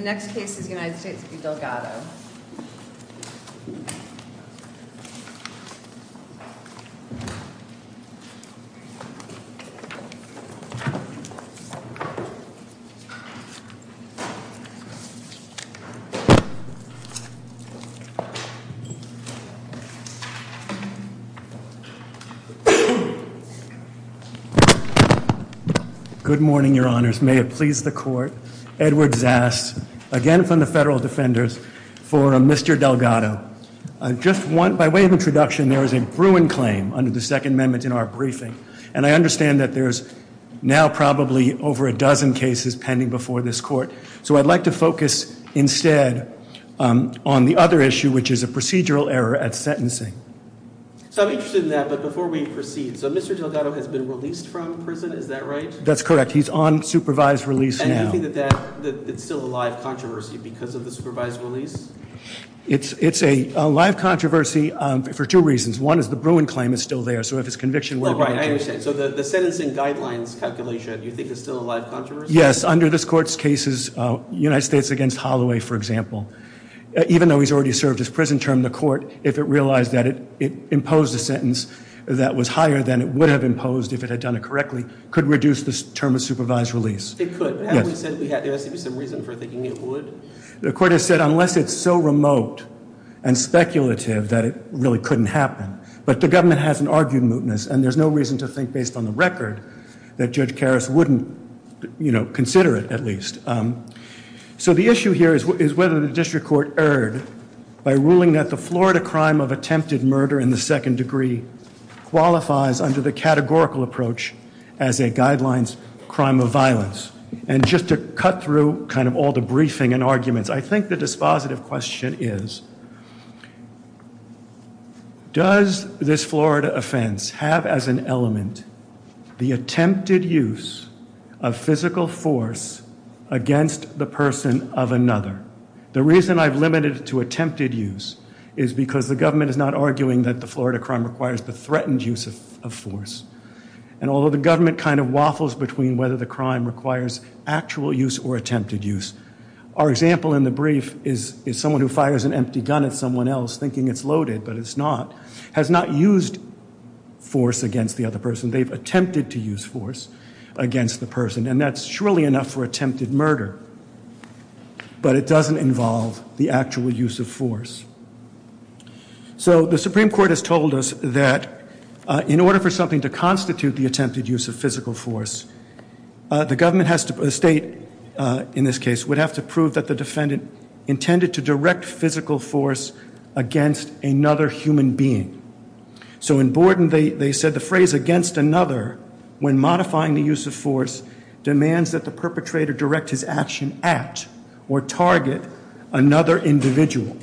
The next case is United States v. Delgado. Good morning, your honors. May it please the court, Edward Zast, again from the Federal Defenders, for Mr. Delgado. By way of introduction, there is a Bruin claim under the Second Amendment in our briefing, and I understand that there's now probably over a dozen cases pending before this court, so I'd like to focus instead on the other issue, which is a procedural error at sentencing. So I'm interested in that, but before we proceed, so Mr. Delgado has been released from prison, is that right? That's correct. He's on supervised release now. And do you think that it's still a live controversy because of the supervised release? It's a live controversy for two reasons. One is the Bruin claim is still there, so if it's conviction, we'll be able to- Right, I understand. So the sentencing guidelines calculation, do you think it's still a live controversy? Yes, under this court's cases, United States v. Holloway, for example, even though he's already served his prison term, the court, if it realized that it imposed a sentence that was higher than it would have imposed if it had done it correctly, could reduce the term of supervised release. It could. Yes. But haven't we said there has to be some reason for thinking it would? The court has said unless it's so remote and speculative that it really couldn't happen. But the government hasn't argued mootness, and there's no reason to think based on the record that Judge Karras wouldn't consider it, at least. So the issue here is whether the district court erred by ruling that the Florida crime of attempted murder in the second degree qualifies under the categorical approach as a guidelines crime of violence. And just to cut through kind of all the briefing and arguments, I think the dispositive question is, does this Florida offense have as an element the attempted use of physical force against the person of another? The reason I've limited it to attempted use is because the government is not arguing that the Florida crime requires the threatened use of force. And although the government kind of waffles between whether the crime requires actual use or attempted use, our example in the brief is someone who fires an empty gun at someone else thinking it's loaded, but it's not, has not used force against the other person. They've attempted to use force against the person. And that's surely enough for attempted murder. But it doesn't involve the actual use of force. So the Supreme Court has told us that in order for something to constitute the attempted use of physical force, the government has to, the state in this case, would have to prove that the defendant intended to direct physical force against another human being. So in Borden, they said the phrase against another, when modifying the use of force, demands that the perpetrator direct his action at or target another individual.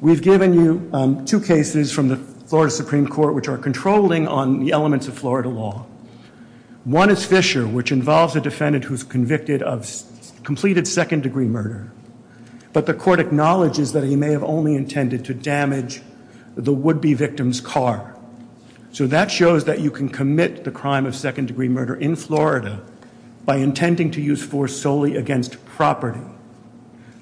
We've given you two cases from the Florida Supreme Court which are controlling on the elements of Florida law. One is Fisher, which involves a defendant who's convicted of completed second degree murder. But the court acknowledges that he may have only intended to damage the would-be victim's car. So that shows that you can commit the crime of second degree murder in Florida by intending to use force solely against property.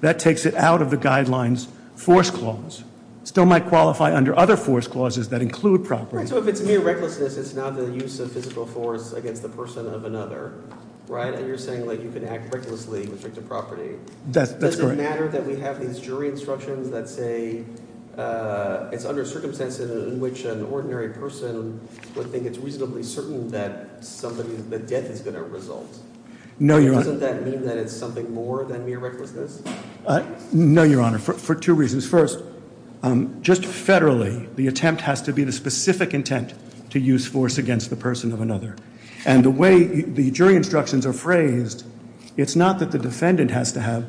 That takes it out of the guidelines force clause. Still might qualify under other force clauses that include property. So if it's mere recklessness, it's not the use of physical force against the person of another, right? And you're saying you can act recklessly with respect to property. Does it matter that we have these jury instructions that say it's under circumstances in which an ordinary person would think it's reasonably certain that the death is going to result? Doesn't that mean that it's something more than mere recklessness? No, your honor, for two reasons. First, just federally, the attempt has to be the specific intent to use force against the person of another. And the way the jury instructions are phrased, it's not that the defendant has to have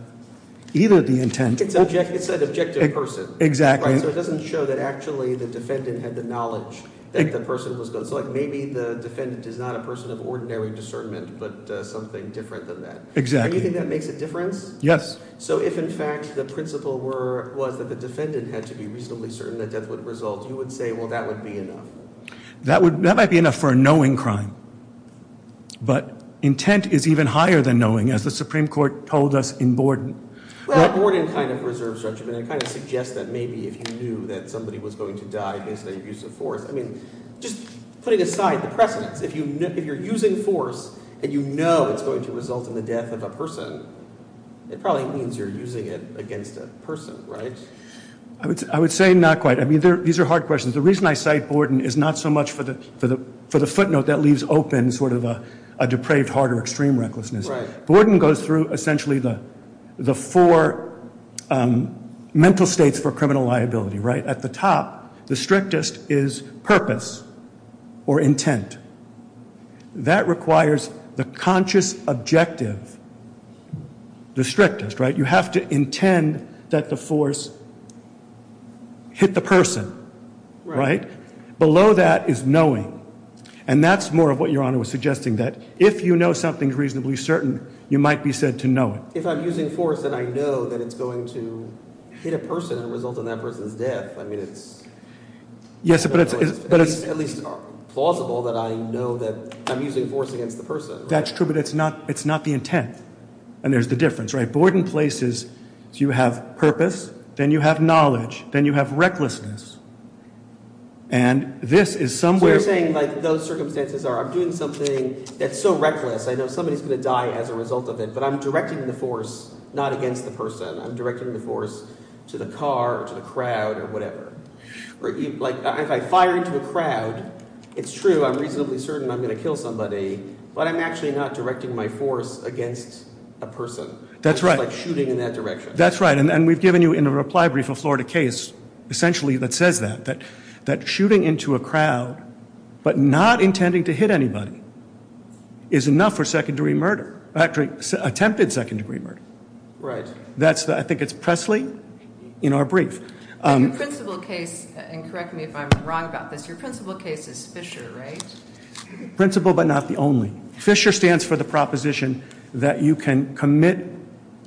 either the intent. It's an objective person. Exactly. So it doesn't show that actually the defendant had the knowledge that the person was going to. So maybe the defendant is not a person of ordinary discernment, but something different than that. Exactly. And you think that makes a difference? Yes. So if in fact the principle was that the defendant had to be reasonably certain that death would result, you would say, well, that would be enough. That might be enough for a knowing crime. But intent is even higher than knowing, as the Supreme Court told us in Borden. Well, Borden kind of reserves judgment and kind of suggests that maybe if you knew that somebody was going to die based on your use of force. I mean, just putting aside the precedence, if you're using force and you know it's going to result in the death of a person, it probably means you're using it against a person, right? I would say not quite. I mean, these are hard questions. The reason I cite Borden is not so much for the footnote that leaves open sort of a depraved heart or extreme recklessness. Borden goes through essentially the four mental states for criminal liability, right? At the top, the strictest is purpose or intent. That requires the conscious objective, the strictest, right? You have to intend that the force hit the person, right? Below that is knowing. And that's more of what Your Honor was suggesting, that if you know something's reasonably certain, you might be said to know it. If I'm using force and I know that it's going to hit a person and result in that person's death, I mean, it's- Yes, but it's- At least plausible that I know that I'm using force against the person. That's true, but it's not the intent. And there's the difference, right? Borden places, so you have purpose, then you have knowledge, then you have recklessness. And this is somewhere- So you're saying like those circumstances are I'm doing something that's so reckless, I know somebody's going to die as a result of it, but I'm directing the force not against the person. I'm directing the force to the car or to the crowd or whatever. Or like if I fire into a crowd, it's true, I'm reasonably certain I'm going to kill somebody, but I'm actually not directing my force against a person. That's right. I'm just like shooting in that direction. That's right. And we've given you in a reply brief a Florida case essentially that says that, that shooting into a crowd but not intending to hit anybody is enough for second degree murder, attempted second degree murder. Right. That's the, I think it's Presley in our brief. Your principal case, and correct me if I'm wrong about this, your principal case is Fisher, right? Principal but not the only. Fisher stands for the proposition that you can commit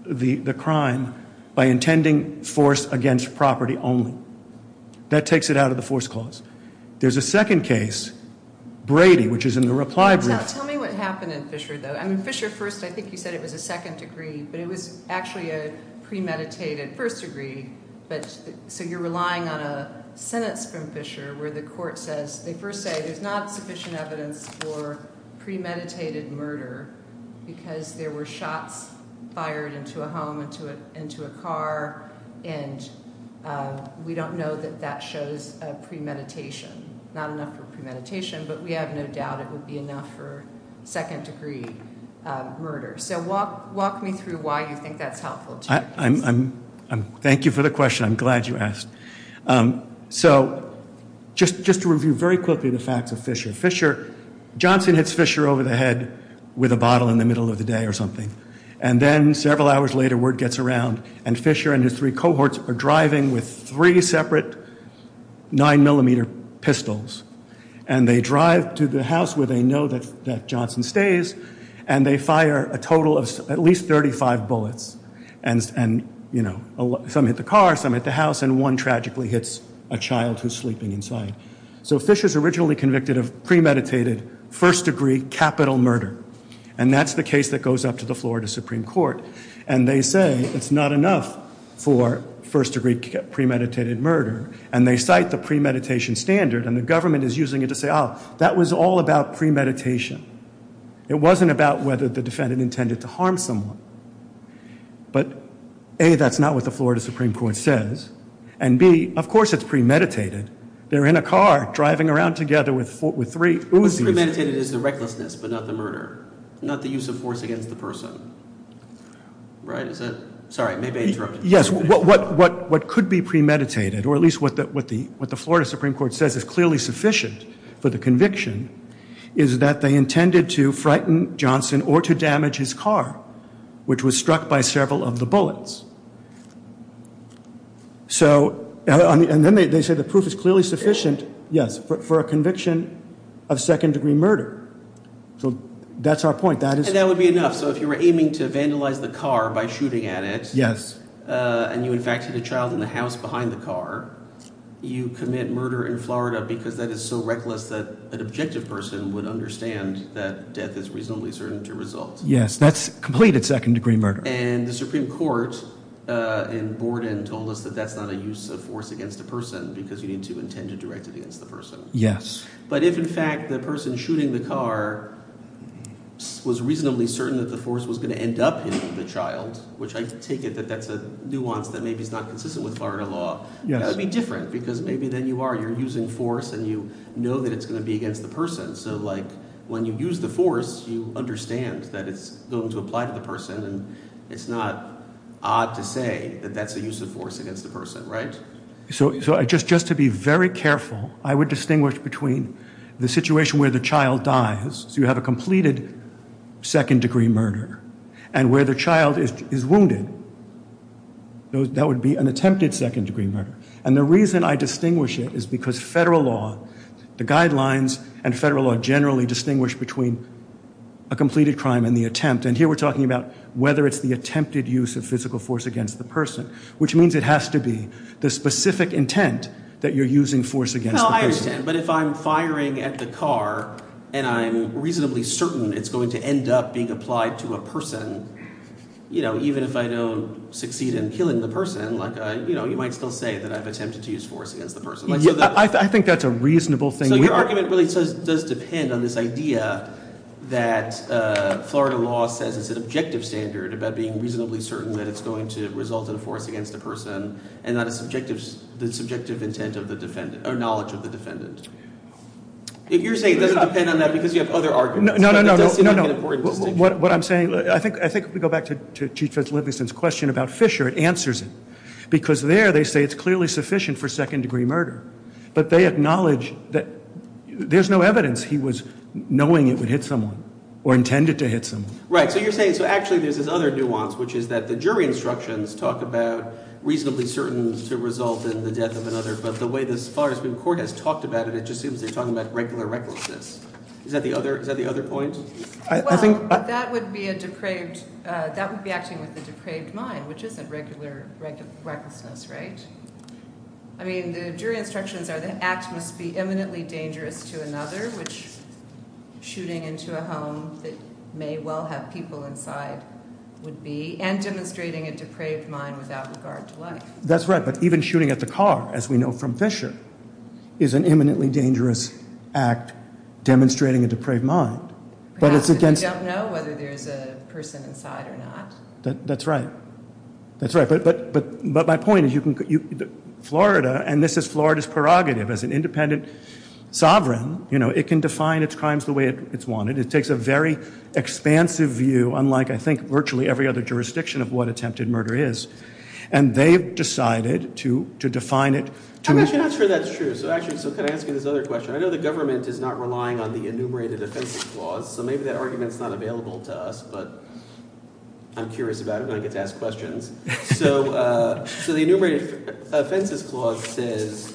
the crime by intending force against property only. That takes it out of the force clause. There's a second case, Brady, which is in the reply brief. Tell me what happened in Fisher though. I mean Fisher first, I think you said it was a second degree, but it was actually a premeditated first degree, but so you're relying on a sentence from Fisher where the court says, they first say there's not sufficient evidence for premeditated murder because there were shots fired into a home, into a car, and we don't know that that shows premeditation. Not enough for premeditation, but we have no doubt it would be enough for second degree murder. So walk me through why you think that's helpful to your case. Thank you for the question. I'm glad you asked. So just to review very quickly the facts of Fisher. Fisher, Johnson hits Fisher over the head with a bottle in the middle of the day or something. And then several hours later word gets around and Fisher and his three cohorts are driving with three separate nine millimeter pistols. And they drive to the house where they know that Johnson stays and they fire a total of at least 35 bullets. And some hit the car, some hit the house, and one tragically hits a child who's sleeping inside. So Fisher's originally convicted of premeditated first degree capital murder. And that's the case that goes up to the Florida Supreme Court. And they say it's not enough for first degree premeditated murder. And they cite the premeditation standard and the government is using it to say, that was all about premeditation. It wasn't about whether the defendant intended to harm someone. But A, that's not what the Florida Supreme Court says. And B, of course it's premeditated. They're in a car driving around together with three Uzi's. What's premeditated is the recklessness, but not the murder. Not the use of force against the person, right? Is that, sorry, maybe I interrupted. Yes, what could be premeditated, or at least what the Florida Supreme Court says is clearly sufficient for the conviction is that they intended to frighten Johnson or to damage his car. Which was struck by several of the bullets. So, and then they say the proof is clearly sufficient, yes, for a conviction of second degree murder. So that's our point, that is- And that would be enough, so if you were aiming to vandalize the car by shooting at it. Yes. And you in fact hit a child in the house behind the car. You commit murder in Florida because that is so reckless that an objective person would understand that death is reasonably certain to result. Yes, that's completed second degree murder. And the Supreme Court in Borden told us that that's not a use of force against a person because you need to intend to direct it against the person. Yes. But if in fact the person shooting the car was reasonably certain that the force was going to end up hitting the child, which I take it that that's a nuance that maybe is not consistent with Florida law. Yes. That would be different because maybe then you are, you're using force and you know that it's going to be against the person. So like, when you use the force, you understand that it's going to apply to the person and it's not odd to say that that's a use of force against the person, right? So just to be very careful, I would distinguish between the situation where the child dies, so you have a completed second degree murder, and where the child is wounded, that would be an attempted second degree murder. And the reason I distinguish it is because federal law, the guidelines and federal law generally distinguish between a completed crime and the attempt. And here we're talking about whether it's the attempted use of physical force against the person, which means it has to be the specific intent that you're using force against the person. But if I'm firing at the car, and I'm reasonably certain it's going to end up being applied to a person, even if I don't succeed in killing the person, you might still say that I've attempted to use force against the person. I think that's a reasonable thing. So your argument really does depend on this idea that Florida law says it's an objective standard about being reasonably certain that it's going to result in a force against a person. And not the subjective intent of the defendant, or knowledge of the defendant. If you're saying it doesn't depend on that because you have other arguments, that does seem like an important distinction. What I'm saying, I think if we go back to Chief Judge Livingston's question about Fisher, it answers it. Because there, they say it's clearly sufficient for second degree murder. But they acknowledge that there's no evidence he was knowing it would hit someone, or intended to hit someone. Right, so you're saying, so actually there's this other nuance, which is that the jury instructions talk about reasonably certain to result in the death of another. But the way this, as far as the court has talked about it, it just seems they're talking about regular recklessness. Is that the other point? I think- That would be a depraved, that would be acting with a depraved mind, which isn't regular recklessness, right? I mean, the jury instructions are the act must be eminently dangerous to another, which shooting into a home that may well have people inside would be, and demonstrating a depraved mind without regard to life. That's right, but even shooting at the car, as we know from Fisher, is an eminently dangerous act demonstrating a depraved mind. But it's against- Perhaps if you don't know whether there's a person inside or not. That's right. That's right, but my point is you can, Florida, and this is Florida's prerogative as an independent sovereign, it can define its crimes the way it's wanted. It takes a very expansive view, unlike, I think, virtually every other jurisdiction of what attempted murder is. And they've decided to define it to- I'm actually not sure that's true. So actually, so can I ask you this other question? I know the government is not relying on the enumerated offenses clause, so maybe that argument's not available to us. But I'm curious about it when I get to ask questions. So the enumerated offenses clause says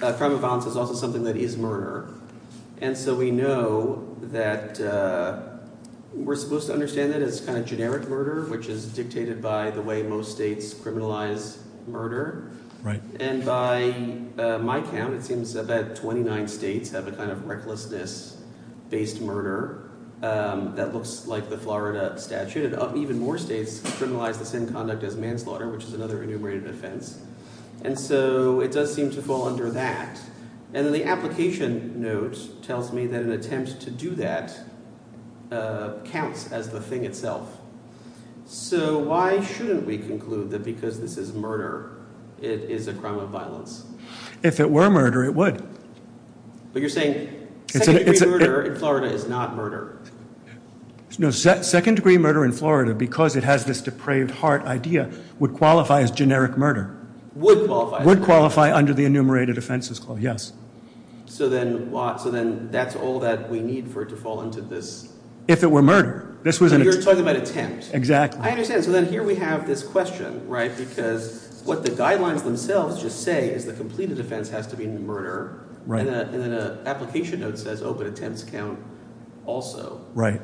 crime of violence is also something that is murder. And so we know that we're supposed to understand that as kind of generic murder, which is dictated by the way most states criminalize murder. And by my count, it seems that 29 states have a kind of recklessness-based murder that looks like the Florida statute. And even more states criminalize the same conduct as manslaughter, which is another enumerated offense. And so it does seem to fall under that. And the application note tells me that an attempt to do that counts as the thing itself. So why shouldn't we conclude that because this is murder, it is a crime of violence? If it were murder, it would. But you're saying second degree murder in Florida is not murder. No, second degree murder in Florida, because it has this depraved heart idea, would qualify as generic murder. Would qualify. Would qualify under the enumerated offenses clause, yes. So then that's all that we need for it to fall into this. If it were murder. You're talking about attempt. Exactly. I understand. So then here we have this question, right, because what the guidelines themselves just say is the completed offense has to be murder. Right. And then an application note says, oh, but attempts count also. Right.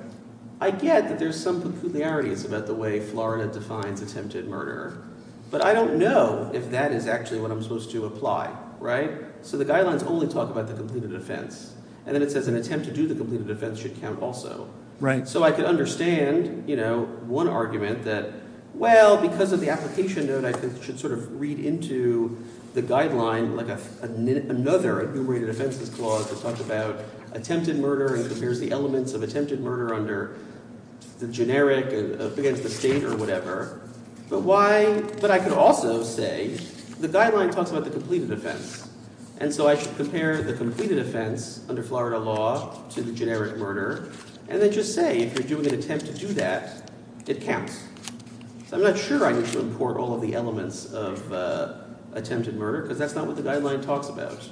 I get that there's some peculiarities about the way Florida defines attempted murder. But I don't know if that is actually what I'm supposed to apply, right? So the guidelines only talk about the completed offense. And then it says an attempt to do the completed offense should count also. Right. So I can understand, you know, one argument that, well, because of the application note, I should sort of read into the guideline like another enumerated offenses clause that talks about attempted murder and compares the elements of attempted murder under the generic against the state or whatever. But why, but I could also say, the guideline talks about the completed offense. And so I should compare the completed offense under Florida law to the generic murder. And then just say, if you're doing an attempt to do that, it counts. So I'm not sure I need to import all of the elements of attempted murder, because that's not what the guideline talks about.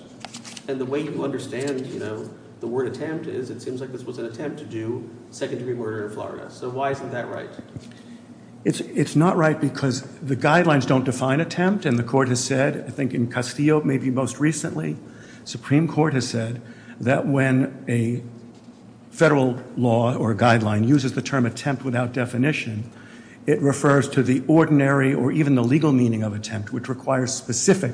And the way you understand, you know, the word attempt is, it seems like this was an attempt to do second degree murder in Florida. So why isn't that right? It's not right because the guidelines don't define attempt. And the court has said, I think in Castillo, maybe most recently, Supreme Court has said that when a federal law or a guideline uses the term attempt without definition, it refers to the ordinary or even the legal meaning of attempt, which requires specific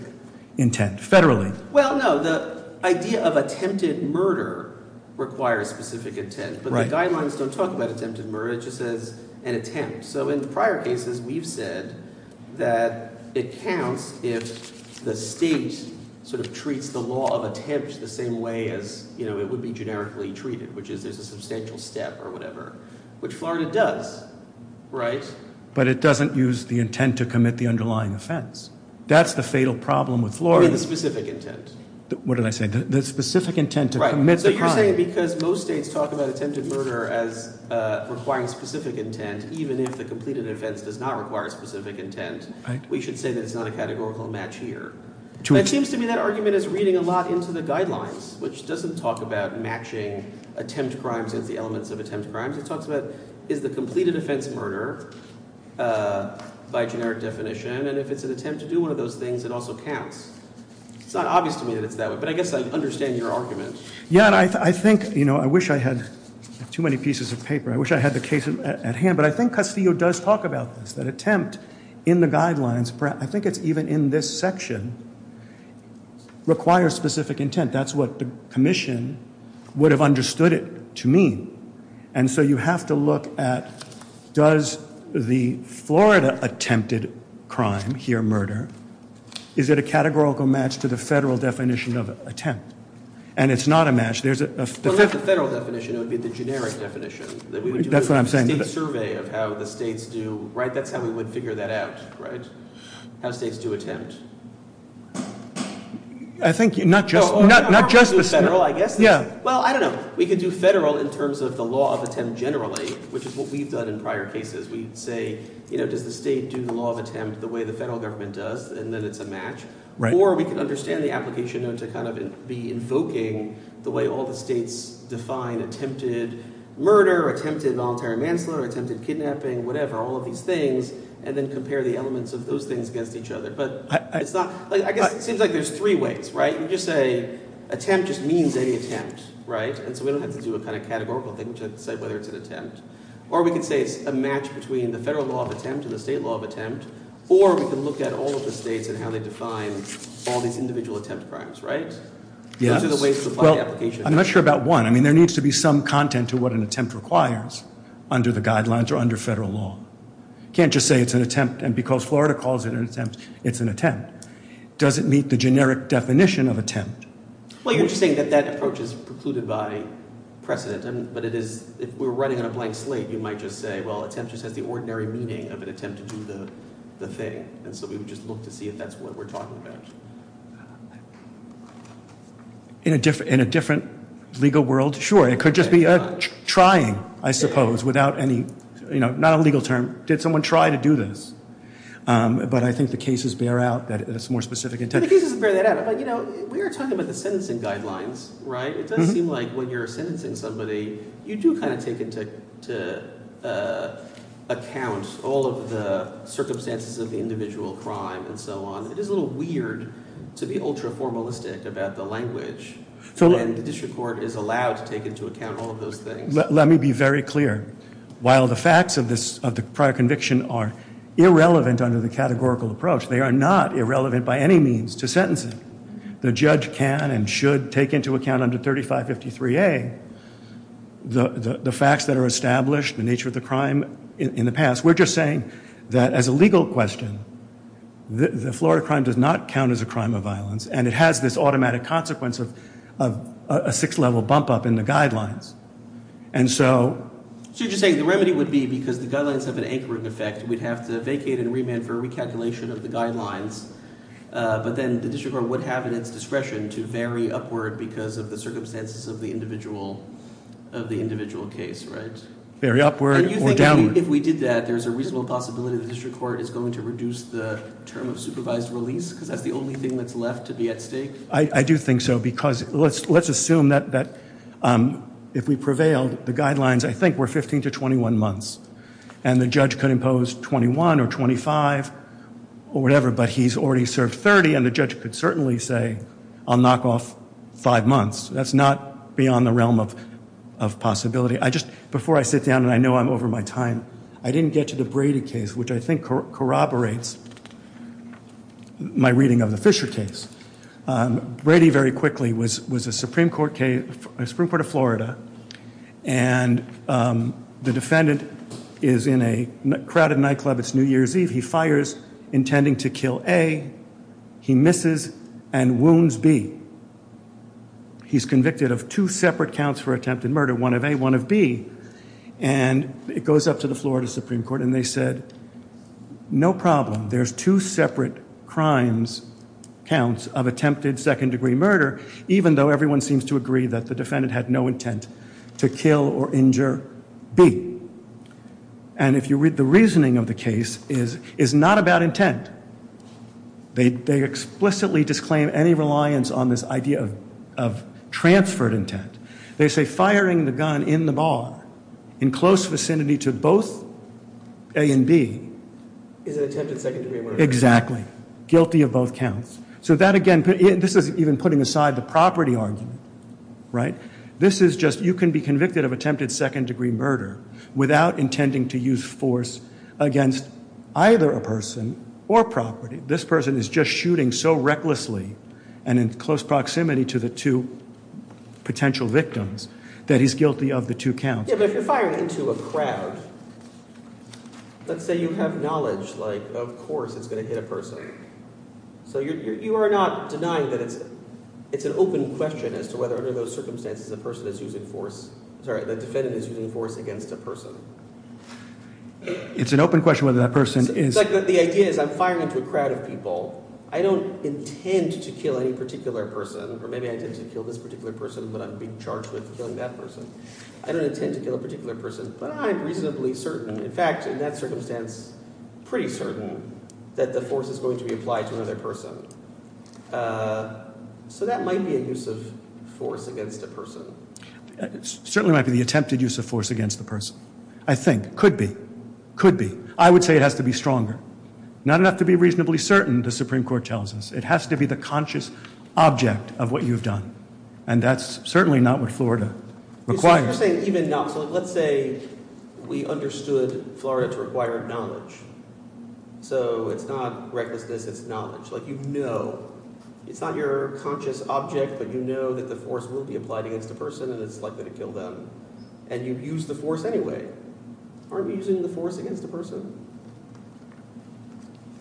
intent, federally. Well, no, the idea of attempted murder requires specific intent. But the guidelines don't talk about attempted murder, it just says an attempt. So in prior cases, we've said that it counts if the state sort of treats the law of attempt the same way as it would be generically treated, which is there's a substantial step or whatever. Which Florida does, right? But it doesn't use the intent to commit the underlying offense. That's the fatal problem with Florida. I mean the specific intent. What did I say? The specific intent to commit the crime. Right, so you're saying because most states talk about attempted murder as requiring specific intent, even if the completed offense does not require specific intent, we should say that it's not a categorical match here. It seems to me that argument is reading a lot into the guidelines, which doesn't talk about matching attempt crimes as the elements of attempt crimes. It talks about, is the completed offense murder by generic definition, and if it's an attempt to do one of those things, it also counts. It's not obvious to me that it's that way, but I guess I understand your argument. Yeah, and I think, I wish I had too many pieces of paper. I wish I had the case at hand, but I think Castillo does talk about this. That attempt in the guidelines, I think it's even in this section, requires specific intent. That's what the commission would have understood it to mean. And so you have to look at, does the Florida attempted crime here murder? Is it a categorical match to the federal definition of attempt? And it's not a match. There's a- Well, if the federal definition, it would be the generic definition. That we would do a state survey of how the states do, right? That's how we would figure that out, right? How states do attempt. I think, not just- No, or we could do federal, I guess. Yeah. Well, I don't know. We could do federal in terms of the law of attempt generally, which is what we've done in prior cases. We'd say, does the state do the law of attempt the way the federal government does, and then it's a match? Or we could understand the application to kind of be invoking the way all the states define attempted murder, attempted voluntary manslaughter, attempted kidnapping, whatever, all of these things. And then compare the elements of those things against each other. But it's not, I guess it seems like there's three ways, right? You just say, attempt just means any attempt, right? And so we don't have to do a kind of categorical thing to decide whether it's an attempt. Or we could say it's a match between the federal law of attempt and the state law of attempt. Or we could look at all of the states and how they define all these individual attempt crimes, right? Those are the ways to apply the application. I'm not sure about one. I mean, there needs to be some content to what an attempt requires under the guidelines or under federal law. Can't just say it's an attempt, and because Florida calls it an attempt, it's an attempt. Does it meet the generic definition of attempt? Well, you're just saying that that approach is precluded by precedent. But it is, if we were writing on a blank slate, you might just say, well, attempt just has the ordinary meaning of an attempt to do the thing. And so we would just look to see if that's what we're talking about. In a different legal world, sure, it could just be a trying, I suppose, without any, you know, not a legal term. Did someone try to do this? But I think the cases bear out that it's more specific intent. The cases bear that out, but you know, we were talking about the sentencing guidelines, right? It does seem like when you're sentencing somebody, you do kind of take into account all of the circumstances of the individual crime and so on. It is a little weird to be ultra-formalistic about the language, and the district court is allowed to take into account all of those things. Let me be very clear. While the facts of the prior conviction are irrelevant under the categorical approach, they are not irrelevant by any means to sentencing. The judge can and should take into account under 3553A the facts that are established, the nature of the crime in the past. We're just saying that as a legal question, the Florida crime does not count as a crime of violence, and it has this automatic consequence of a sixth level bump up in the guidelines. And so- So you're just saying the remedy would be because the guidelines have an anchoring effect, we'd have to vacate and remand for recalculation of the guidelines. But then the district court would have at its discretion to vary upward because of the circumstances of the individual case, right? Very upward or downward. And you think if we did that, there's a reasonable possibility the district court is going to reduce the term of supervised release because that's the only thing that's left to be at stake? I do think so, because let's assume that if we prevailed, the guidelines, I think, were 15 to 21 months. And the judge could impose 21 or 25 or whatever, but he's already served 30, and the judge could certainly say, I'll knock off five months. That's not beyond the realm of possibility. Before I sit down, and I know I'm over my time, I didn't get to the Brady case, which I think corroborates my reading of the Fisher case. Brady, very quickly, was a Supreme Court of Florida, and the defendant is in a crowded nightclub. It's New Year's Eve. He fires, intending to kill A. He misses and wounds B. He's convicted of two separate counts for attempted murder, one of A, one of B. And it goes up to the Florida Supreme Court, and they said, no problem. There's two separate crimes counts of attempted second-degree murder, even though everyone seems to agree that the defendant had no intent to kill or injure B. And if you read the reasoning of the case, it's not about intent. They explicitly disclaim any reliance on this idea of transferred intent. They say firing the gun in the bar in close vicinity to both A and B is an attempted second-degree murder. Exactly. Guilty of both counts. So that, again, this is even putting aside the property argument, right? This is just, you can be convicted of attempted second-degree murder without intending to use force against either a person or property. This person is just shooting so recklessly and in close proximity to the two potential victims that he's guilty of the two counts. Yeah, but if you're firing into a crowd, let's say you have knowledge, like, of course it's going to hit a person. So you are not denying that it's an open question as to whether under those circumstances a person is using force – sorry, the defendant is using force against a person. It's an open question whether that person is – It's like the idea is I'm firing into a crowd of people. I don't intend to kill any particular person, or maybe I intend to kill this particular person, but I'm being charged with killing that person. I don't intend to kill a particular person, but I'm reasonably certain. In fact, in that circumstance, pretty certain that the force is going to be applied to another person. So that might be a use of force against a person. It certainly might be the attempted use of force against the person, I think. Could be. Could be. I would say it has to be stronger. Not enough to be reasonably certain, the Supreme Court tells us. It has to be the conscious object of what you've done, and that's certainly not what Florida requires. So let's say we understood Florida to require knowledge. So it's not recklessness. It's knowledge. Like you know – it's not your conscious object, but you know that the force will be applied against a person, and it's likely to kill them. And you've used the force anyway. Aren't we using the force against a person?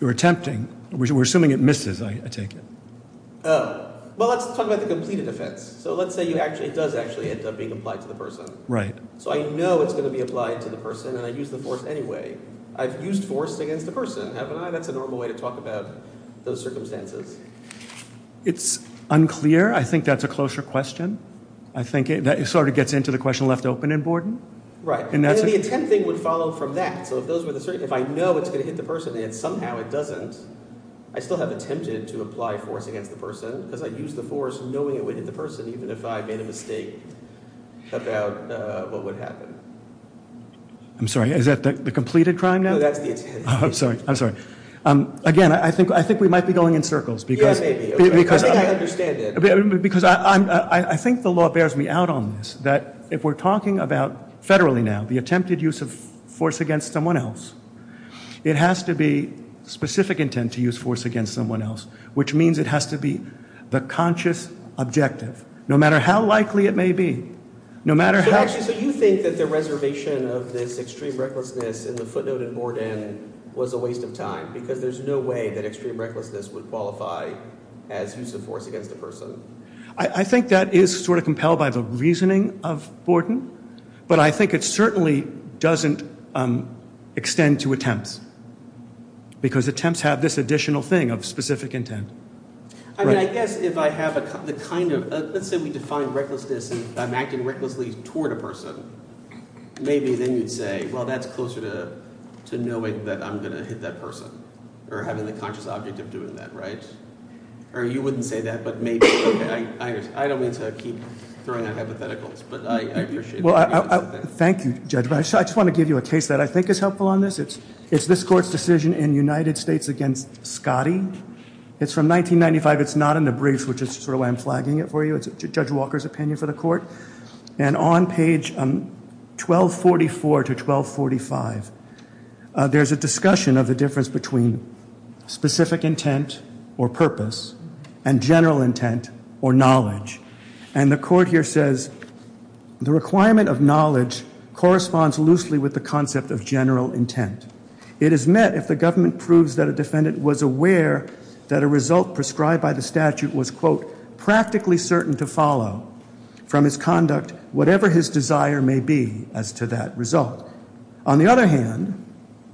You're attempting. We're assuming it misses, I take it. Oh. Well, let's talk about the completed offense. So let's say it does actually end up being applied to the person. Right. So I know it's going to be applied to the person, and I use the force anyway. I've used force against the person, haven't I? That's a normal way to talk about those circumstances. It's unclear. I think that's a closer question. I think that sort of gets into the question left open in Borden. Right. And the attempting would follow from that. So if those were the – if I know it's going to hit the person and somehow it doesn't, I still have attempted to apply force against the person because I used the force knowing it would hit the person, even if I made a mistake about what would happen. I'm sorry. Is that the completed crime now? No, that's the attempted. I'm sorry. I'm sorry. Again, I think we might be going in circles because – Yeah, maybe. I think I understand it. Because I think the law bears me out on this, that if we're talking about federally now the attempted use of force against someone else, it has to be specific intent to use force against someone else, which means it has to be the conscious objective, no matter how likely it may be, no matter how – Actually, so you think that the reservation of this extreme recklessness in the footnote in Borden was a waste of time because there's no way that extreme recklessness would qualify as use of force against a person? I think that is sort of compelled by the reasoning of Borden, but I think it certainly doesn't extend to attempts because attempts have this additional thing of specific intent. I mean, I guess if I have the kind of – let's say we define recklessness and I'm acting recklessly toward a person. Maybe then you'd say, well, that's closer to knowing that I'm going to hit that person or having the conscious objective of doing that, right? Or you wouldn't say that, but maybe. I don't mean to keep throwing out hypotheticals, but I appreciate that. Thank you, Judge. I just want to give you a case that I think is helpful on this. It's this Court's decision in the United States against Scotty. It's from 1995. It's not in the brief, which is sort of why I'm flagging it for you. It's Judge Walker's opinion for the Court. And on page 1244 to 1245, there's a discussion of the difference between specific intent or purpose and general intent or knowledge. And the Court here says, The requirement of knowledge corresponds loosely with the concept of general intent. It is met if the government proves that a defendant was aware that a result prescribed by the statute was, quote, practically certain to follow from his conduct whatever his desire may be as to that result. On the other hand,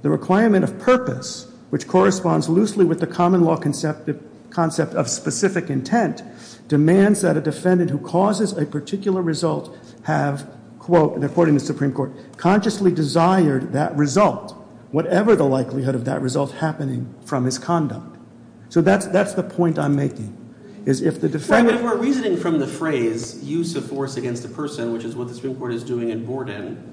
the requirement of purpose, which corresponds loosely with the common law concept of specific intent, demands that a defendant who causes a particular result have, quote, according to the Supreme Court, consciously desired that result, whatever the likelihood of that result happening from his conduct. So that's the point I'm making, is if the defendant— If we're reasoning from the phrase use of force against a person, which is what the Supreme Court is doing in Borden,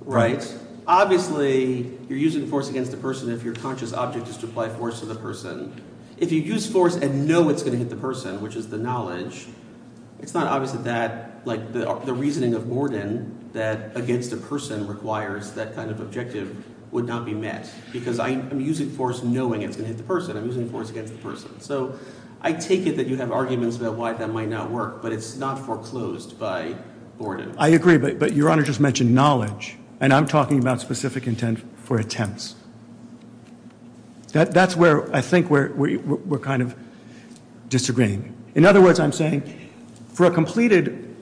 right, obviously you're using force against a person if your conscious object is to apply force to the person. If you use force and know it's going to hit the person, which is the knowledge, it's not obvious that that – like the reasoning of Borden that against a person requires that kind of objective would not be met because I'm using force knowing it's going to hit the person. I'm using force against the person. So I take it that you have arguments about why that might not work, but it's not foreclosed by Borden. I agree, but Your Honor just mentioned knowledge, and I'm talking about specific intent for attempts. That's where I think we're kind of disagreeing. In other words, I'm saying for a completed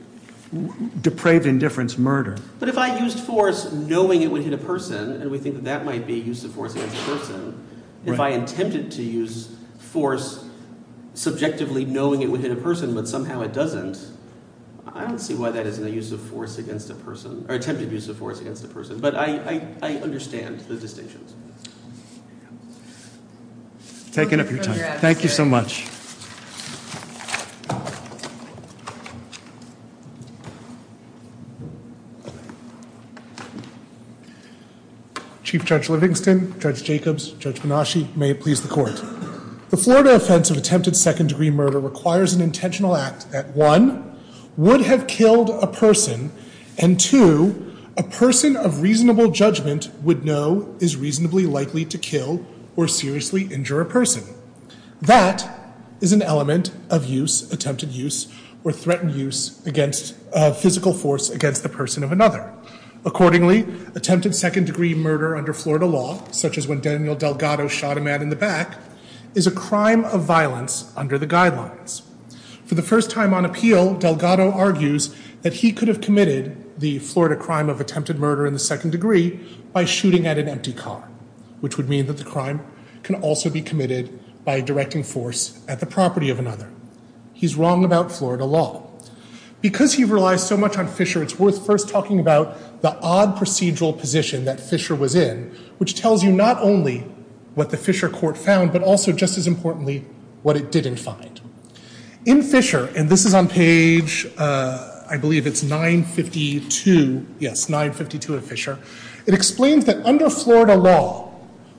depraved indifference murder— But if I used force knowing it would hit a person, and we think that that might be use of force against a person, if I attempted to use force subjectively knowing it would hit a person but somehow it doesn't, I don't see why that isn't a use of force against a person or attempted use of force against a person. But I understand the distinctions. I've taken up your time. Thank you so much. Chief Judge Livingston, Judge Jacobs, Judge Minashi, may it please the court. The Florida offense of attempted second-degree murder requires an intentional act that, one, would have killed a person, and two, a person of reasonable judgment would know is reasonably likely to kill or seriously injure a person. That is an element of use, attempted use, or threatened use of physical force against the person of another. Accordingly, attempted second-degree murder under Florida law, such as when Daniel Delgado shot a man in the back, is a crime of violence under the guidelines. For the first time on appeal, Delgado argues that he could have committed the Florida crime of attempted murder in the second degree by shooting at an empty car, which would mean that the crime can also be committed by directing force at the property of another. He's wrong about Florida law. Because he relies so much on Fisher, it's worth first talking about the odd procedural position that Fisher was in, which tells you not only what the Fisher court found, but also, just as importantly, what it didn't find. In Fisher, and this is on page, I believe it's 952, yes, 952 of Fisher, it explains that under Florida law,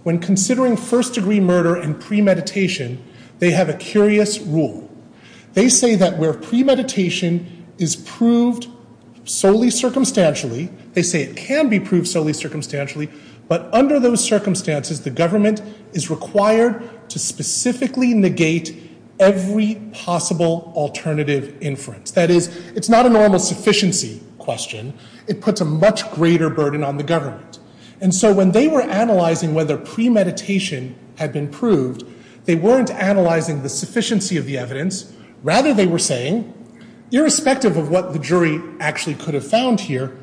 when considering first-degree murder and premeditation, they have a curious rule. They say that where premeditation is proved solely circumstantially, they say it can be proved solely circumstantially, but under those circumstances, the government is required to specifically negate every possible alternative inference. That is, it's not a normal sufficiency question. It puts a much greater burden on the government. And so when they were analyzing whether premeditation had been proved, they weren't analyzing the sufficiency of the evidence. Rather, they were saying, irrespective of what the jury actually could have found here,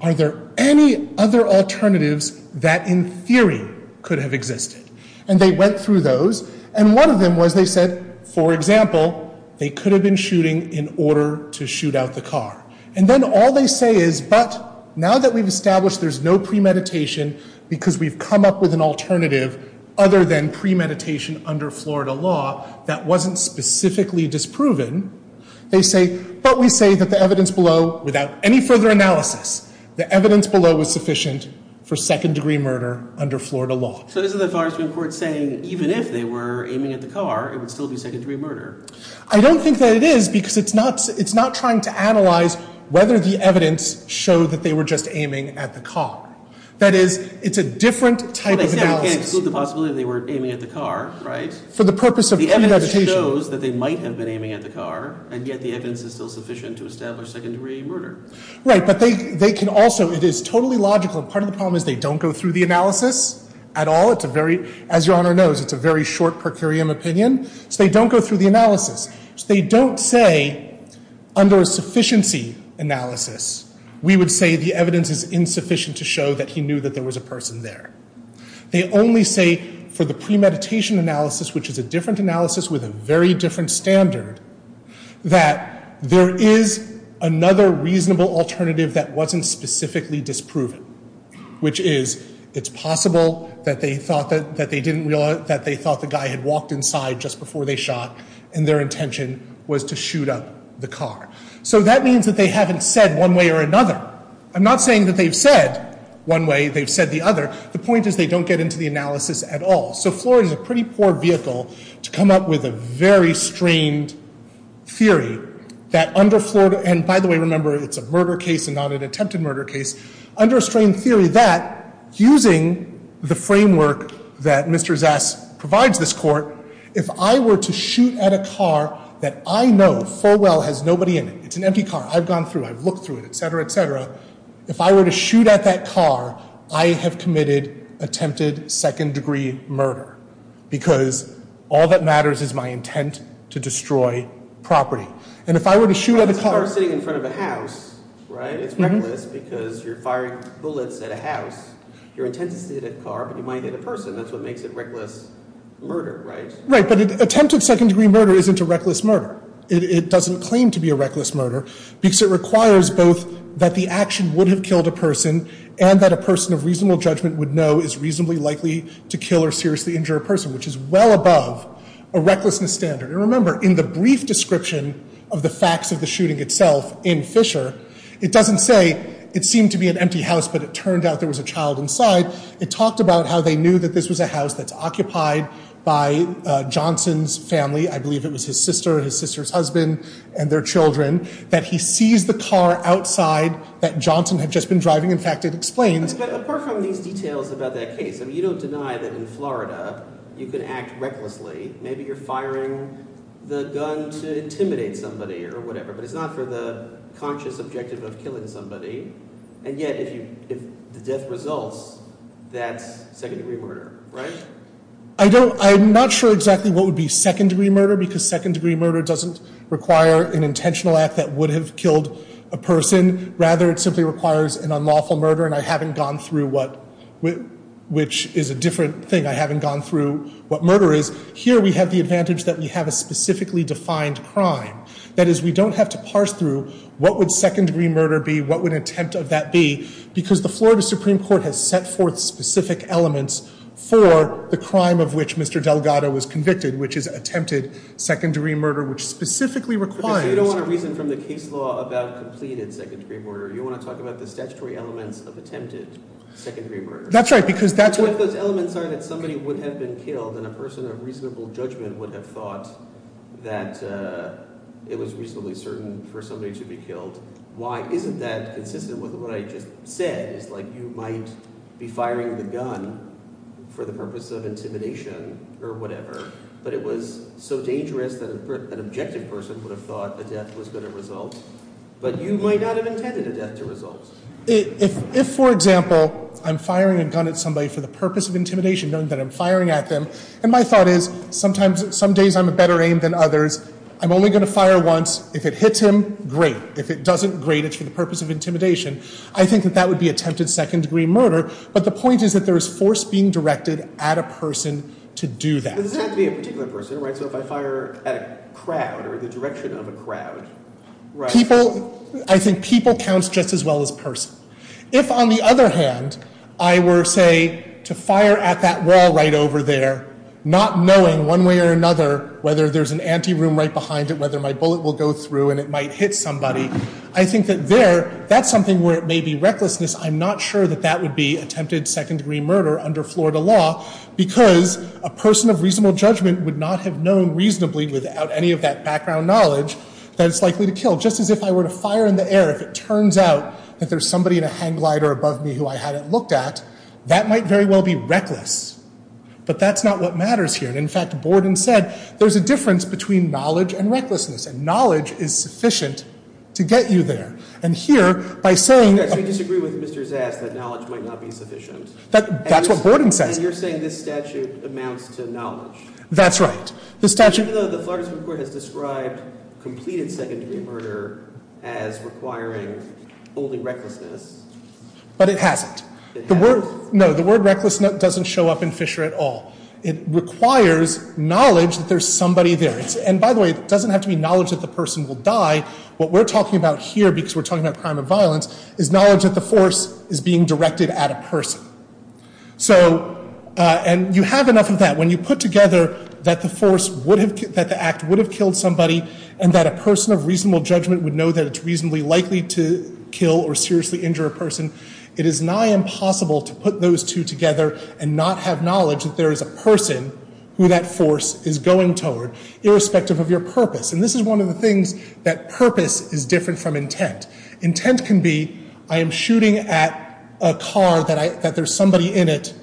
are there any other alternatives that, in theory, could have existed? And they went through those, and one of them was they said, for example, they could have been shooting in order to shoot out the car. And then all they say is, but now that we've established there's no premeditation because we've come up with an alternative other than premeditation under Florida law that wasn't specifically disproven, they say, but we say that the evidence below, without any further analysis, the evidence below was sufficient for second-degree murder under Florida law. So isn't the Florida Supreme Court saying even if they were aiming at the car, it would still be second-degree murder? I don't think that it is, because it's not trying to analyze whether the evidence showed that they were just aiming at the car. That is, it's a different type of analysis. Well, they can't exclude the possibility that they were aiming at the car, right? For the purpose of premeditation. The evidence shows that they might have been aiming at the car, and yet the evidence is still sufficient to establish second-degree murder. Right, but they can also, it is totally logical, and part of the problem is they don't go through the analysis at all. It's a very, as Your Honor knows, it's a very short per curiam opinion. So they don't go through the analysis. They don't say under a sufficiency analysis, we would say the evidence is insufficient to show that he knew that there was a person there. They only say for the premeditation analysis, which is a different analysis with a very different standard, that there is another reasonable alternative that wasn't specifically disproven, which is it's possible that they thought that they didn't realize, that they thought the guy had walked inside just before they shot, and their intention was to shoot up the car. So that means that they haven't said one way or another. I'm not saying that they've said one way, they've said the other. The point is they don't get into the analysis at all. So Florida is a pretty poor vehicle to come up with a very strained theory that under Florida, and by the way remember it's a murder case and not an attempted murder case, under a strained theory that using the framework that Mr. Zass provides this court, if I were to shoot at a car that I know full well has nobody in it, it's an empty car, I've gone through it, I've looked through it, etc., etc. If I were to shoot at that car, I have committed attempted second degree murder, because all that matters is my intent to destroy property. And if I were to shoot at a car... It's a car sitting in front of a house, right? It's reckless because you're firing bullets at a house. Your intent is to hit a car, but you might hit a person, that's what makes it reckless murder, right? Right, but attempted second degree murder isn't a reckless murder. It doesn't claim to be a reckless murder, because it requires both that the action would have killed a person, and that a person of reasonable judgment would know is reasonably likely to kill or seriously injure a person, which is well above a recklessness standard. And remember, in the brief description of the facts of the shooting itself in Fisher, it doesn't say it seemed to be an empty house, but it turned out there was a child inside. It talked about how they knew that this was a house that's occupied by Johnson's family, I believe it was his sister and his sister's husband and their children, that he sees the car outside that Johnson had just been driving. In fact, it explains... But apart from these details about that case, you don't deny that in Florida you can act recklessly. Maybe you're firing the gun to intimidate somebody or whatever, but it's not for the conscious objective of killing somebody. And yet, if the death results, that's second degree murder, right? I'm not sure exactly what would be second degree murder, because second degree murder doesn't require an intentional act that would have killed a person. Rather, it simply requires an unlawful murder, and I haven't gone through what... which is a different thing. I haven't gone through what murder is. Here we have the advantage that we have a specifically defined crime. That is, we don't have to parse through what would second degree murder be, what would an attempt of that be, because the Florida Supreme Court has set forth specific elements for the crime of which Mr. Delgado was convicted, which is attempted second degree murder, which specifically requires... But you don't want to reason from the case law about completed second degree murder. You want to talk about the statutory elements of attempted second degree murder. That's right, because that's what... What if those elements are that somebody would have been killed and a person of reasonable judgment would have thought that it was reasonably certain for somebody to be killed? Why isn't that consistent with what I just said? It's like you might be firing the gun for the purpose of intimidation or whatever, but it was so dangerous that an objective person would have thought a death was going to result, but you might not have intended a death to result. If, for example, I'm firing a gun at somebody for the purpose of intimidation, knowing that I'm firing at them, and my thought is, some days I'm a better aim than others, I'm only going to fire once. If it hits him, great. If it doesn't, great, it's for the purpose of intimidation. I think that that would be attempted second degree murder, but the point is that there is force being directed at a person to do that. This has to be a particular person, right? So if I fire at a crowd or the direction of a crowd, right? People... I think people count just as well as person. If, on the other hand, I were, say, to fire at that wall right over there, not knowing one way or another whether there's an ante room right behind it, not knowing whether my bullet will go through and it might hit somebody, I think that there, that's something where it may be recklessness. I'm not sure that that would be attempted second degree murder under Florida law because a person of reasonable judgment would not have known reasonably without any of that background knowledge that it's likely to kill. Just as if I were to fire in the air, if it turns out that there's somebody in a hang glider above me who I hadn't looked at, that might very well be reckless, but that's not what matters here. In fact, Borden said there's a difference between knowledge and recklessness, and knowledge is sufficient to get you there. And here, by saying... So you disagree with Mr. Zass that knowledge might not be sufficient? That's what Borden says. And you're saying this statute amounts to knowledge? That's right. Even though the Florida Supreme Court has described completed second degree murder as requiring only recklessness... But it hasn't. It hasn't? No, the word reckless doesn't show up in Fisher at all. It requires knowledge that there's somebody there. And, by the way, it doesn't have to be knowledge that the person will die. What we're talking about here, because we're talking about crime and violence, is knowledge that the force is being directed at a person. And you have enough of that. When you put together that the act would have killed somebody and that a person of reasonable judgment would know that it's reasonably likely to kill or seriously injure a person, it is nigh impossible to put those two together and not have knowledge that there is a person who that force is going toward, irrespective of your purpose. And this is one of the things that purpose is different from intent. Intent can be I am shooting at a car that there's somebody in it,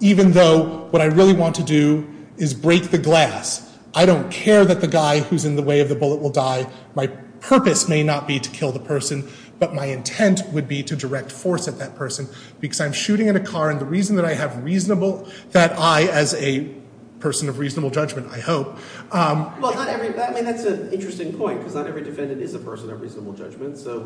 even though what I really want to do is break the glass. I don't care that the guy who's in the way of the bullet will die. My purpose may not be to kill the person, but my intent would be to direct force at that person because I'm shooting at a car and the reason that I have reasonable, that I, as a person of reasonable judgment, I hope. Well, that's an interesting point because not every defendant is a person of reasonable judgment. So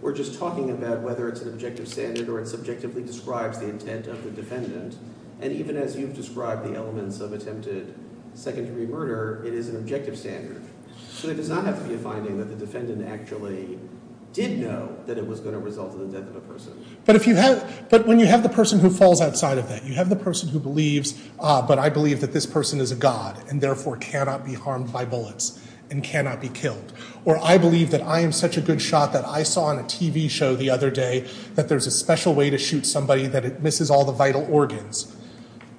we're just talking about whether it's an objective standard or it subjectively describes the intent of the defendant. And even as you've described the elements of attempted second-degree murder, it is an objective standard. So there does not have to be a finding that the defendant actually did know that it was going to result in the death of a person. But when you have the person who falls outside of that, you have the person who believes, but I believe that this person is a god and therefore cannot be harmed by bullets and cannot be killed. Or I believe that I am such a good shot that I saw on a TV show the other day that there's a special way to shoot somebody that it misses all the vital organs.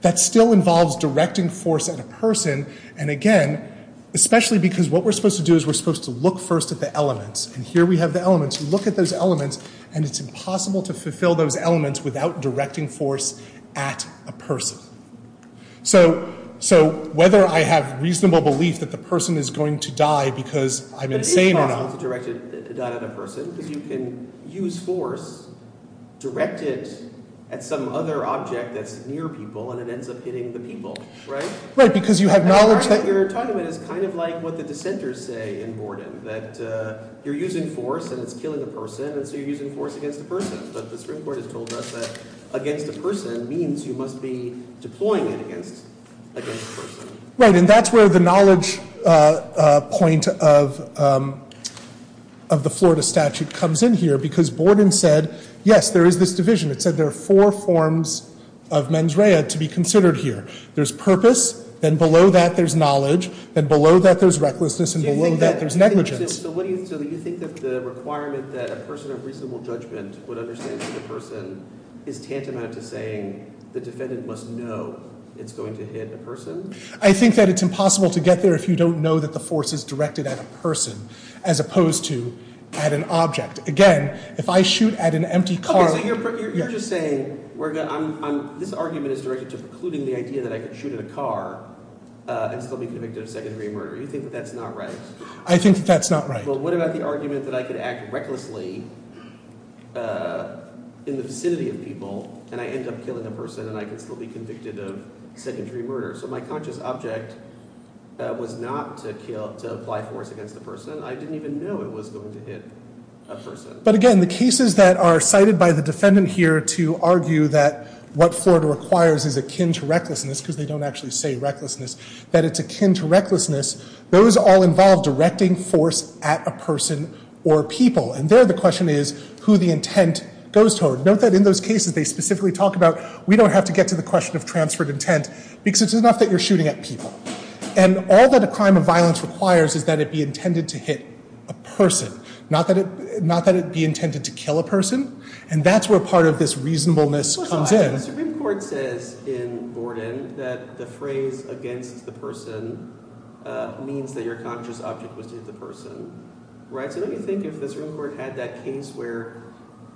That still involves directing force at a person. And again, especially because what we're supposed to do is we're supposed to look first at the elements. And here we have the elements. We look at those elements, and it's impossible to fulfill those elements without directing force at a person. So whether I have reasonable belief that the person is going to die because I'm insane or not— But it is possible to direct a gun at a person because you can use force, direct it at some other object that's near people, and it ends up hitting the people, right? Right, because you have knowledge that— Your argument is kind of like what the dissenters say in Borden, that you're using force and it's killing a person, and so you're using force against a person. But the Supreme Court has told us that against a person means you must be deploying it against a person. Right, and that's where the knowledge point of the Florida statute comes in here because Borden said, yes, there is this division. It said there are four forms of mens rea to be considered here. There's purpose, then below that there's knowledge, then below that there's recklessness, and below that there's negligence. So do you think that the requirement that a person of reasonable judgment would understand that a person is tantamount to saying the defendant must know it's going to hit a person? I think that it's impossible to get there if you don't know that the force is directed at a person as opposed to at an object. Again, if I shoot at an empty car— Okay, so you're just saying this argument is directed to precluding the idea that I could shoot at a car and still be convicted of secondary murder. You think that that's not right? I think that that's not right. Well, what about the argument that I could act recklessly in the vicinity of people and I end up killing a person and I can still be convicted of secondary murder? So my conscious object was not to apply force against the person. I didn't even know it was going to hit a person. But again, the cases that are cited by the defendant here to argue that what Florida requires is akin to recklessness, because they don't actually say recklessness, that it's akin to recklessness, those all involve directing force at a person or people. And there the question is who the intent goes toward. Note that in those cases they specifically talk about we don't have to get to the question of transferred intent because it's enough that you're shooting at people. And all that a crime of violence requires is that it be intended to hit a person, not that it be intended to kill a person. And that's where part of this reasonableness comes in. The Supreme Court says in Borden that the phrase against the person means that your conscious object was to hit the person. So let me think if the Supreme Court had that case where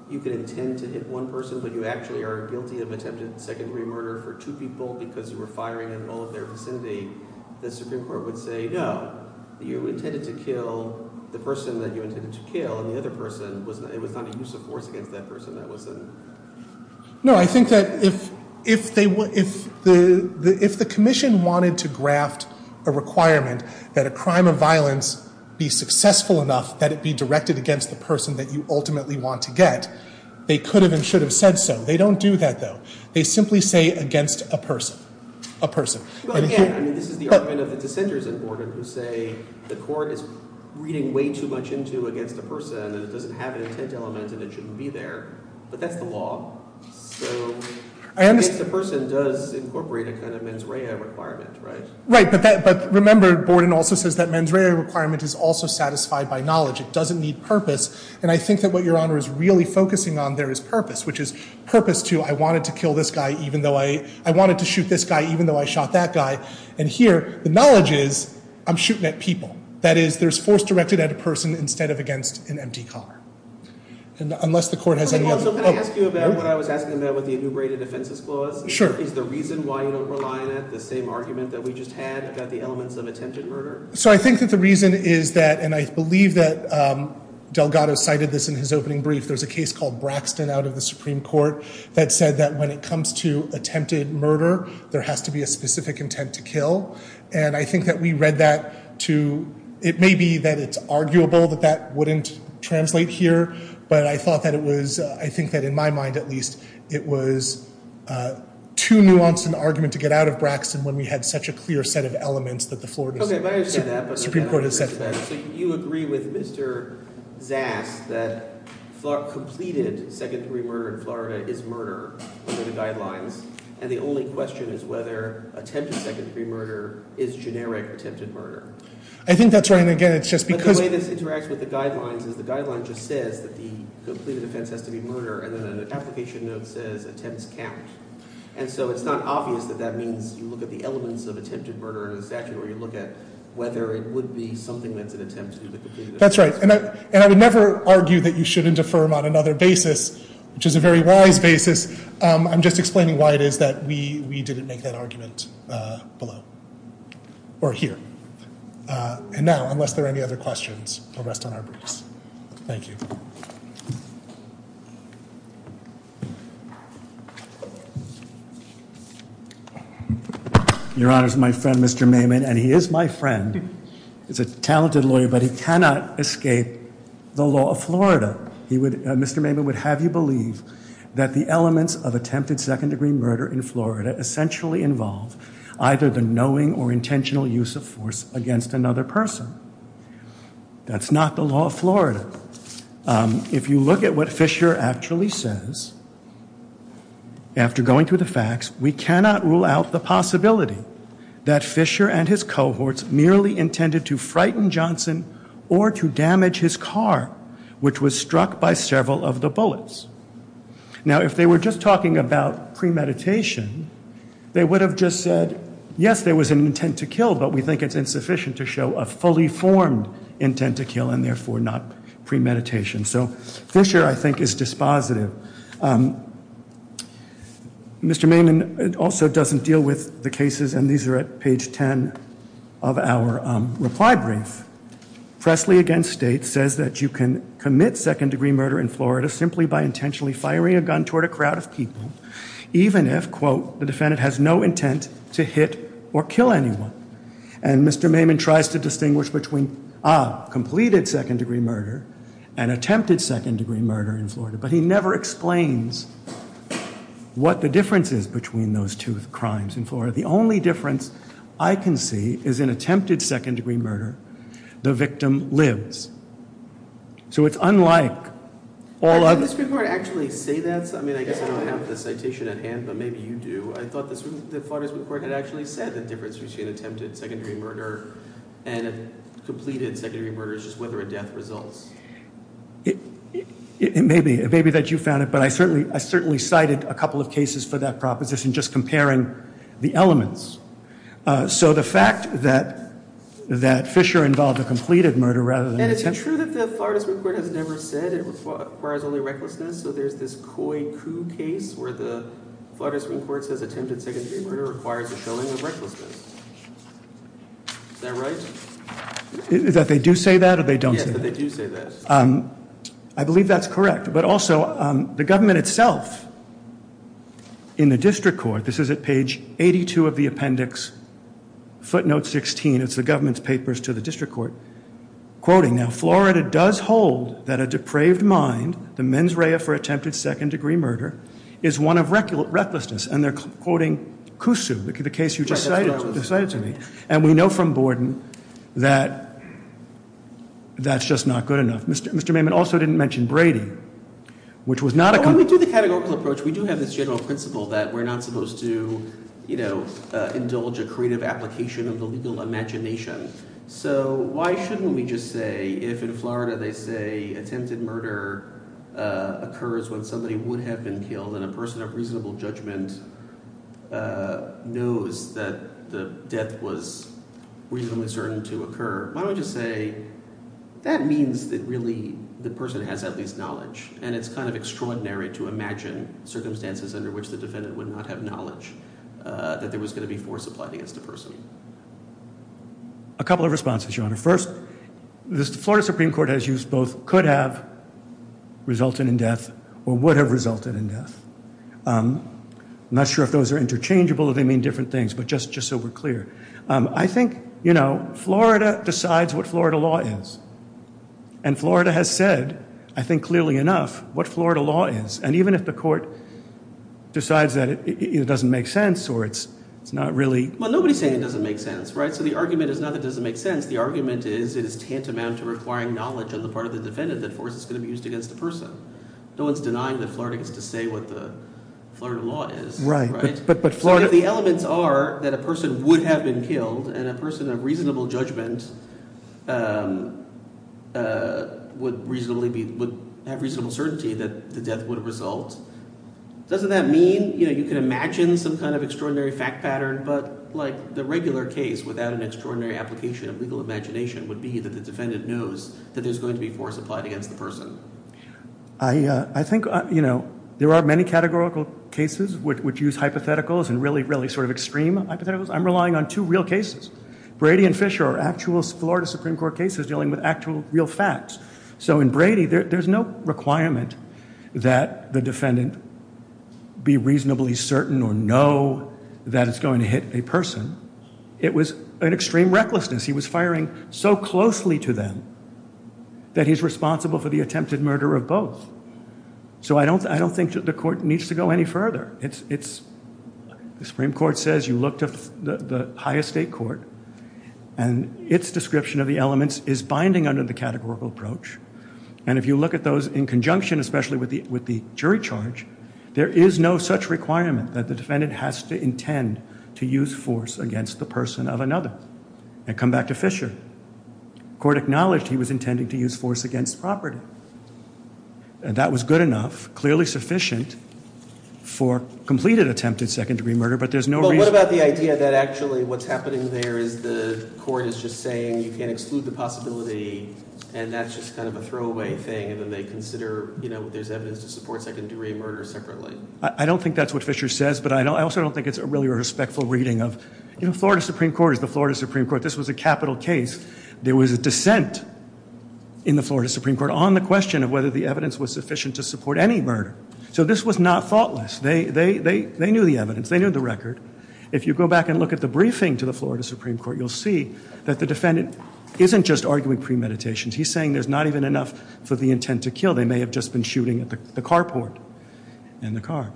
you could intend to hit one person but you actually are guilty of attempted secondary murder for two people because you were firing at all of their vicinity, the Supreme Court would say, no, you intended to kill the person that you intended to kill and it was not a use of force against that person. No, I think that if the commission wanted to graft a requirement that a crime of violence be successful enough that it be directed against the person that you ultimately want to get, they could have and should have said so. They don't do that, though. They simply say against a person. Again, this is the argument of the dissenters in Borden who say the court is reading way too much into against a person and it doesn't have an intent element and it shouldn't be there, but that's the law. So I guess the person does incorporate a kind of mens rea requirement, right? Right, but remember Borden also says that mens rea requirement is also satisfied by knowledge. It doesn't need purpose, and I think that what Your Honor is really focusing on there is purpose, which is purpose to I wanted to kill this guy even though I wanted to shoot this guy even though I shot that guy, and here the knowledge is I'm shooting at people. That is, there's force directed at a person instead of against an empty car. Unless the court has any other... Can I ask you about what I was asking about with the enumerated offenses clause? Is the reason why you don't rely on it the same argument that we just had about the elements of attempted murder? So I think that the reason is that, and I believe that Delgado cited this in his opening brief, there's a case called Braxton out of the Supreme Court that said that when it comes to attempted murder, there has to be a specific intent to kill, and I think that we read that to... It may be that it's arguable that that wouldn't translate here, but I thought that it was, I think that in my mind at least, it was too nuanced an argument to get out of Braxton when we had such a clear set of elements that the Florida Supreme Court has set for that. Okay, but I understand that, but... So you agree with Mr. Zass that completed second-degree murder in Florida is murder under the guidelines, and the only question is whether attempted second-degree murder is generic attempted murder. I think that's right, and again, it's just because... But the way this interacts with the guidelines is the guideline just says that the completed offense has to be murder, and then an application note says attempts count. And so it's not obvious that that means you look at the elements of attempted murder in a statute or you look at whether it would be something that's an attempt to do the completed offense. That's right, and I would never argue that you shouldn't defer him on another basis, which is a very wise basis. I'm just explaining why it is that we didn't make that argument below. Or here. And now, unless there are any other questions, we'll rest on our briefs. Thank you. Your Honor, this is my friend Mr. Maiman, and he is my friend. He's a talented lawyer, but he cannot escape the law of Florida. Mr. Maiman would have you believe that the elements of attempted second-degree murder in Florida essentially involve either the knowing or intentional use of force against another person. That's not the law of Florida. If you look at what Fisher actually says, after going through the facts, we cannot rule out the possibility that Fisher and his cohorts merely intended to frighten Johnson or to damage his car, which was struck by several of the bullets. Now, if they were just talking about premeditation, they would have just said, yes, there was an intent to kill, but we think it's insufficient to show a fully formed intent to kill and therefore not premeditation. So Fisher, I think, is dispositive. Mr. Maiman also doesn't deal with the cases, and these are at page 10 of our reply brief. Pressley against States says that you can commit second-degree murder in Florida simply by intentionally firing a gun toward a crowd of people, even if, quote, the defendant has no intent to hit or kill anyone. And Mr. Maiman tries to distinguish between, ah, completed second-degree murder and attempted second-degree murder in Florida, but he never explains what the difference is between those two crimes in Florida. The only difference I can see is in attempted second-degree murder, the victim lives. So it's unlike all other... Didn't the Supreme Court actually say that? I mean, I guess I don't have the citation at hand, but maybe you do. I thought the Florida Supreme Court had actually said the difference between attempted second-degree murder and completed second-degree murder is just whether a death results. It may be. It may be that you found it, but I certainly cited a couple of cases for that proposition just comparing the elements. So the fact that Fisher involved a completed murder rather than... And it's true that the Florida Supreme Court has never said it requires only recklessness, so there's this Coy Coup case where the Florida Supreme Court says attempted second-degree murder requires a showing of recklessness. Is that right? Is that they do say that or they don't say that? Yeah, but they do say that. Um, I believe that's correct, but also, um, the government itself in the district court, this is at page 82 of the appendix, footnote 16, it's the government's papers to the district court, quoting, now, Florida does hold that a depraved mind, the mens rea for attempted second-degree murder, is one of recklessness, and they're quoting Cusu, the case you just cited to me, and we know from Borden that that's just not good enough. Mr. Maimon also didn't mention Brady, which was not a... When we do the categorical approach, we do have this general principle that we're not going to indulge a creative application of the legal imagination, so why shouldn't we just say, if in Florida they say attempted murder occurs when somebody would have been killed and a person of reasonable judgment knows that the death was reasonably certain to occur, why don't we just say that means that really the person has at least knowledge, and it's kind of extraordinary to imagine circumstances under which the defendant would not have knowledge that there was going to be force applied against the person. A couple of responses, Your Honor. First, the Florida Supreme Court has used both could have resulted in death or would have resulted in death. I'm not sure if those are interchangeable or they mean different things, but just so we're clear. I think, you know, Florida decides what Florida law is, and Florida has said, I think clearly enough, what Florida law is, and even if the court decides that it doesn't make sense or it's not really... Well, nobody's saying it doesn't make sense, right? So the argument is not that it doesn't make sense. The argument is it is tantamount to requiring knowledge on the part of the defendant that force is going to be used against the person. No one's denying that Florida gets to say what the Florida law is. Right, but Florida... So if the elements are that a person would have been killed and a person of reasonable judgment would reasonably be, would have reasonable certainty that the result... Doesn't that mean you can imagine some kind of extraordinary fact pattern, but like the regular case without an extraordinary application of legal imagination would be that the defendant knows that there's going to be force applied against the person. I think, you know, there are many categorical cases which use hypotheticals and really, really sort of extreme hypotheticals. I'm relying on two real cases. Brady and Fisher are actual Florida Supreme Court cases dealing with actual real facts. So in Brady, there's no requirement that the defendant be reasonably certain or know that it's going to hit a person. It was an extreme recklessness. He was firing so closely to them that he's responsible for the attempted murder of both. So I don't think the court needs to go any further. The Supreme Court says you look to the highest state court and its description of the elements is binding under the categorical approach. And if you look at those in conjunction, especially with the jury charge, there is no such requirement that the defendant has to intend to use force against the person of another. And come back to Fisher. Court acknowledged he was intending to use force against property. And that was good enough, clearly sufficient for completed attempted second degree murder, but there's no reason... But what about the idea that actually what's happening there is the court is just saying you can't exclude the possibility and that's just kind of a throwaway thing and then they consider there's evidence to support second degree murder separately. I don't think that's what Fisher says, but I also don't think it's really a respectful reading of... Florida Supreme Court is the Florida Supreme Court. This was a capital case. There was a dissent in the Florida Supreme Court on the question of whether the evidence was sufficient to support any murder. So this was not thoughtless. They knew the evidence. They knew the record. If you go back and look at the briefing to the Florida Supreme Court, you'll see that the defendant isn't just arguing premeditations. He's saying there's not even enough for the intent to kill. They may have just been shooting at the carport and the car.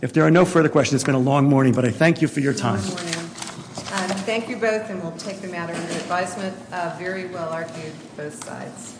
If there are no further questions, it's been a long morning, but I thank you for your time. Thank you both and we'll take the matter under advisement. Very well argued, both sides.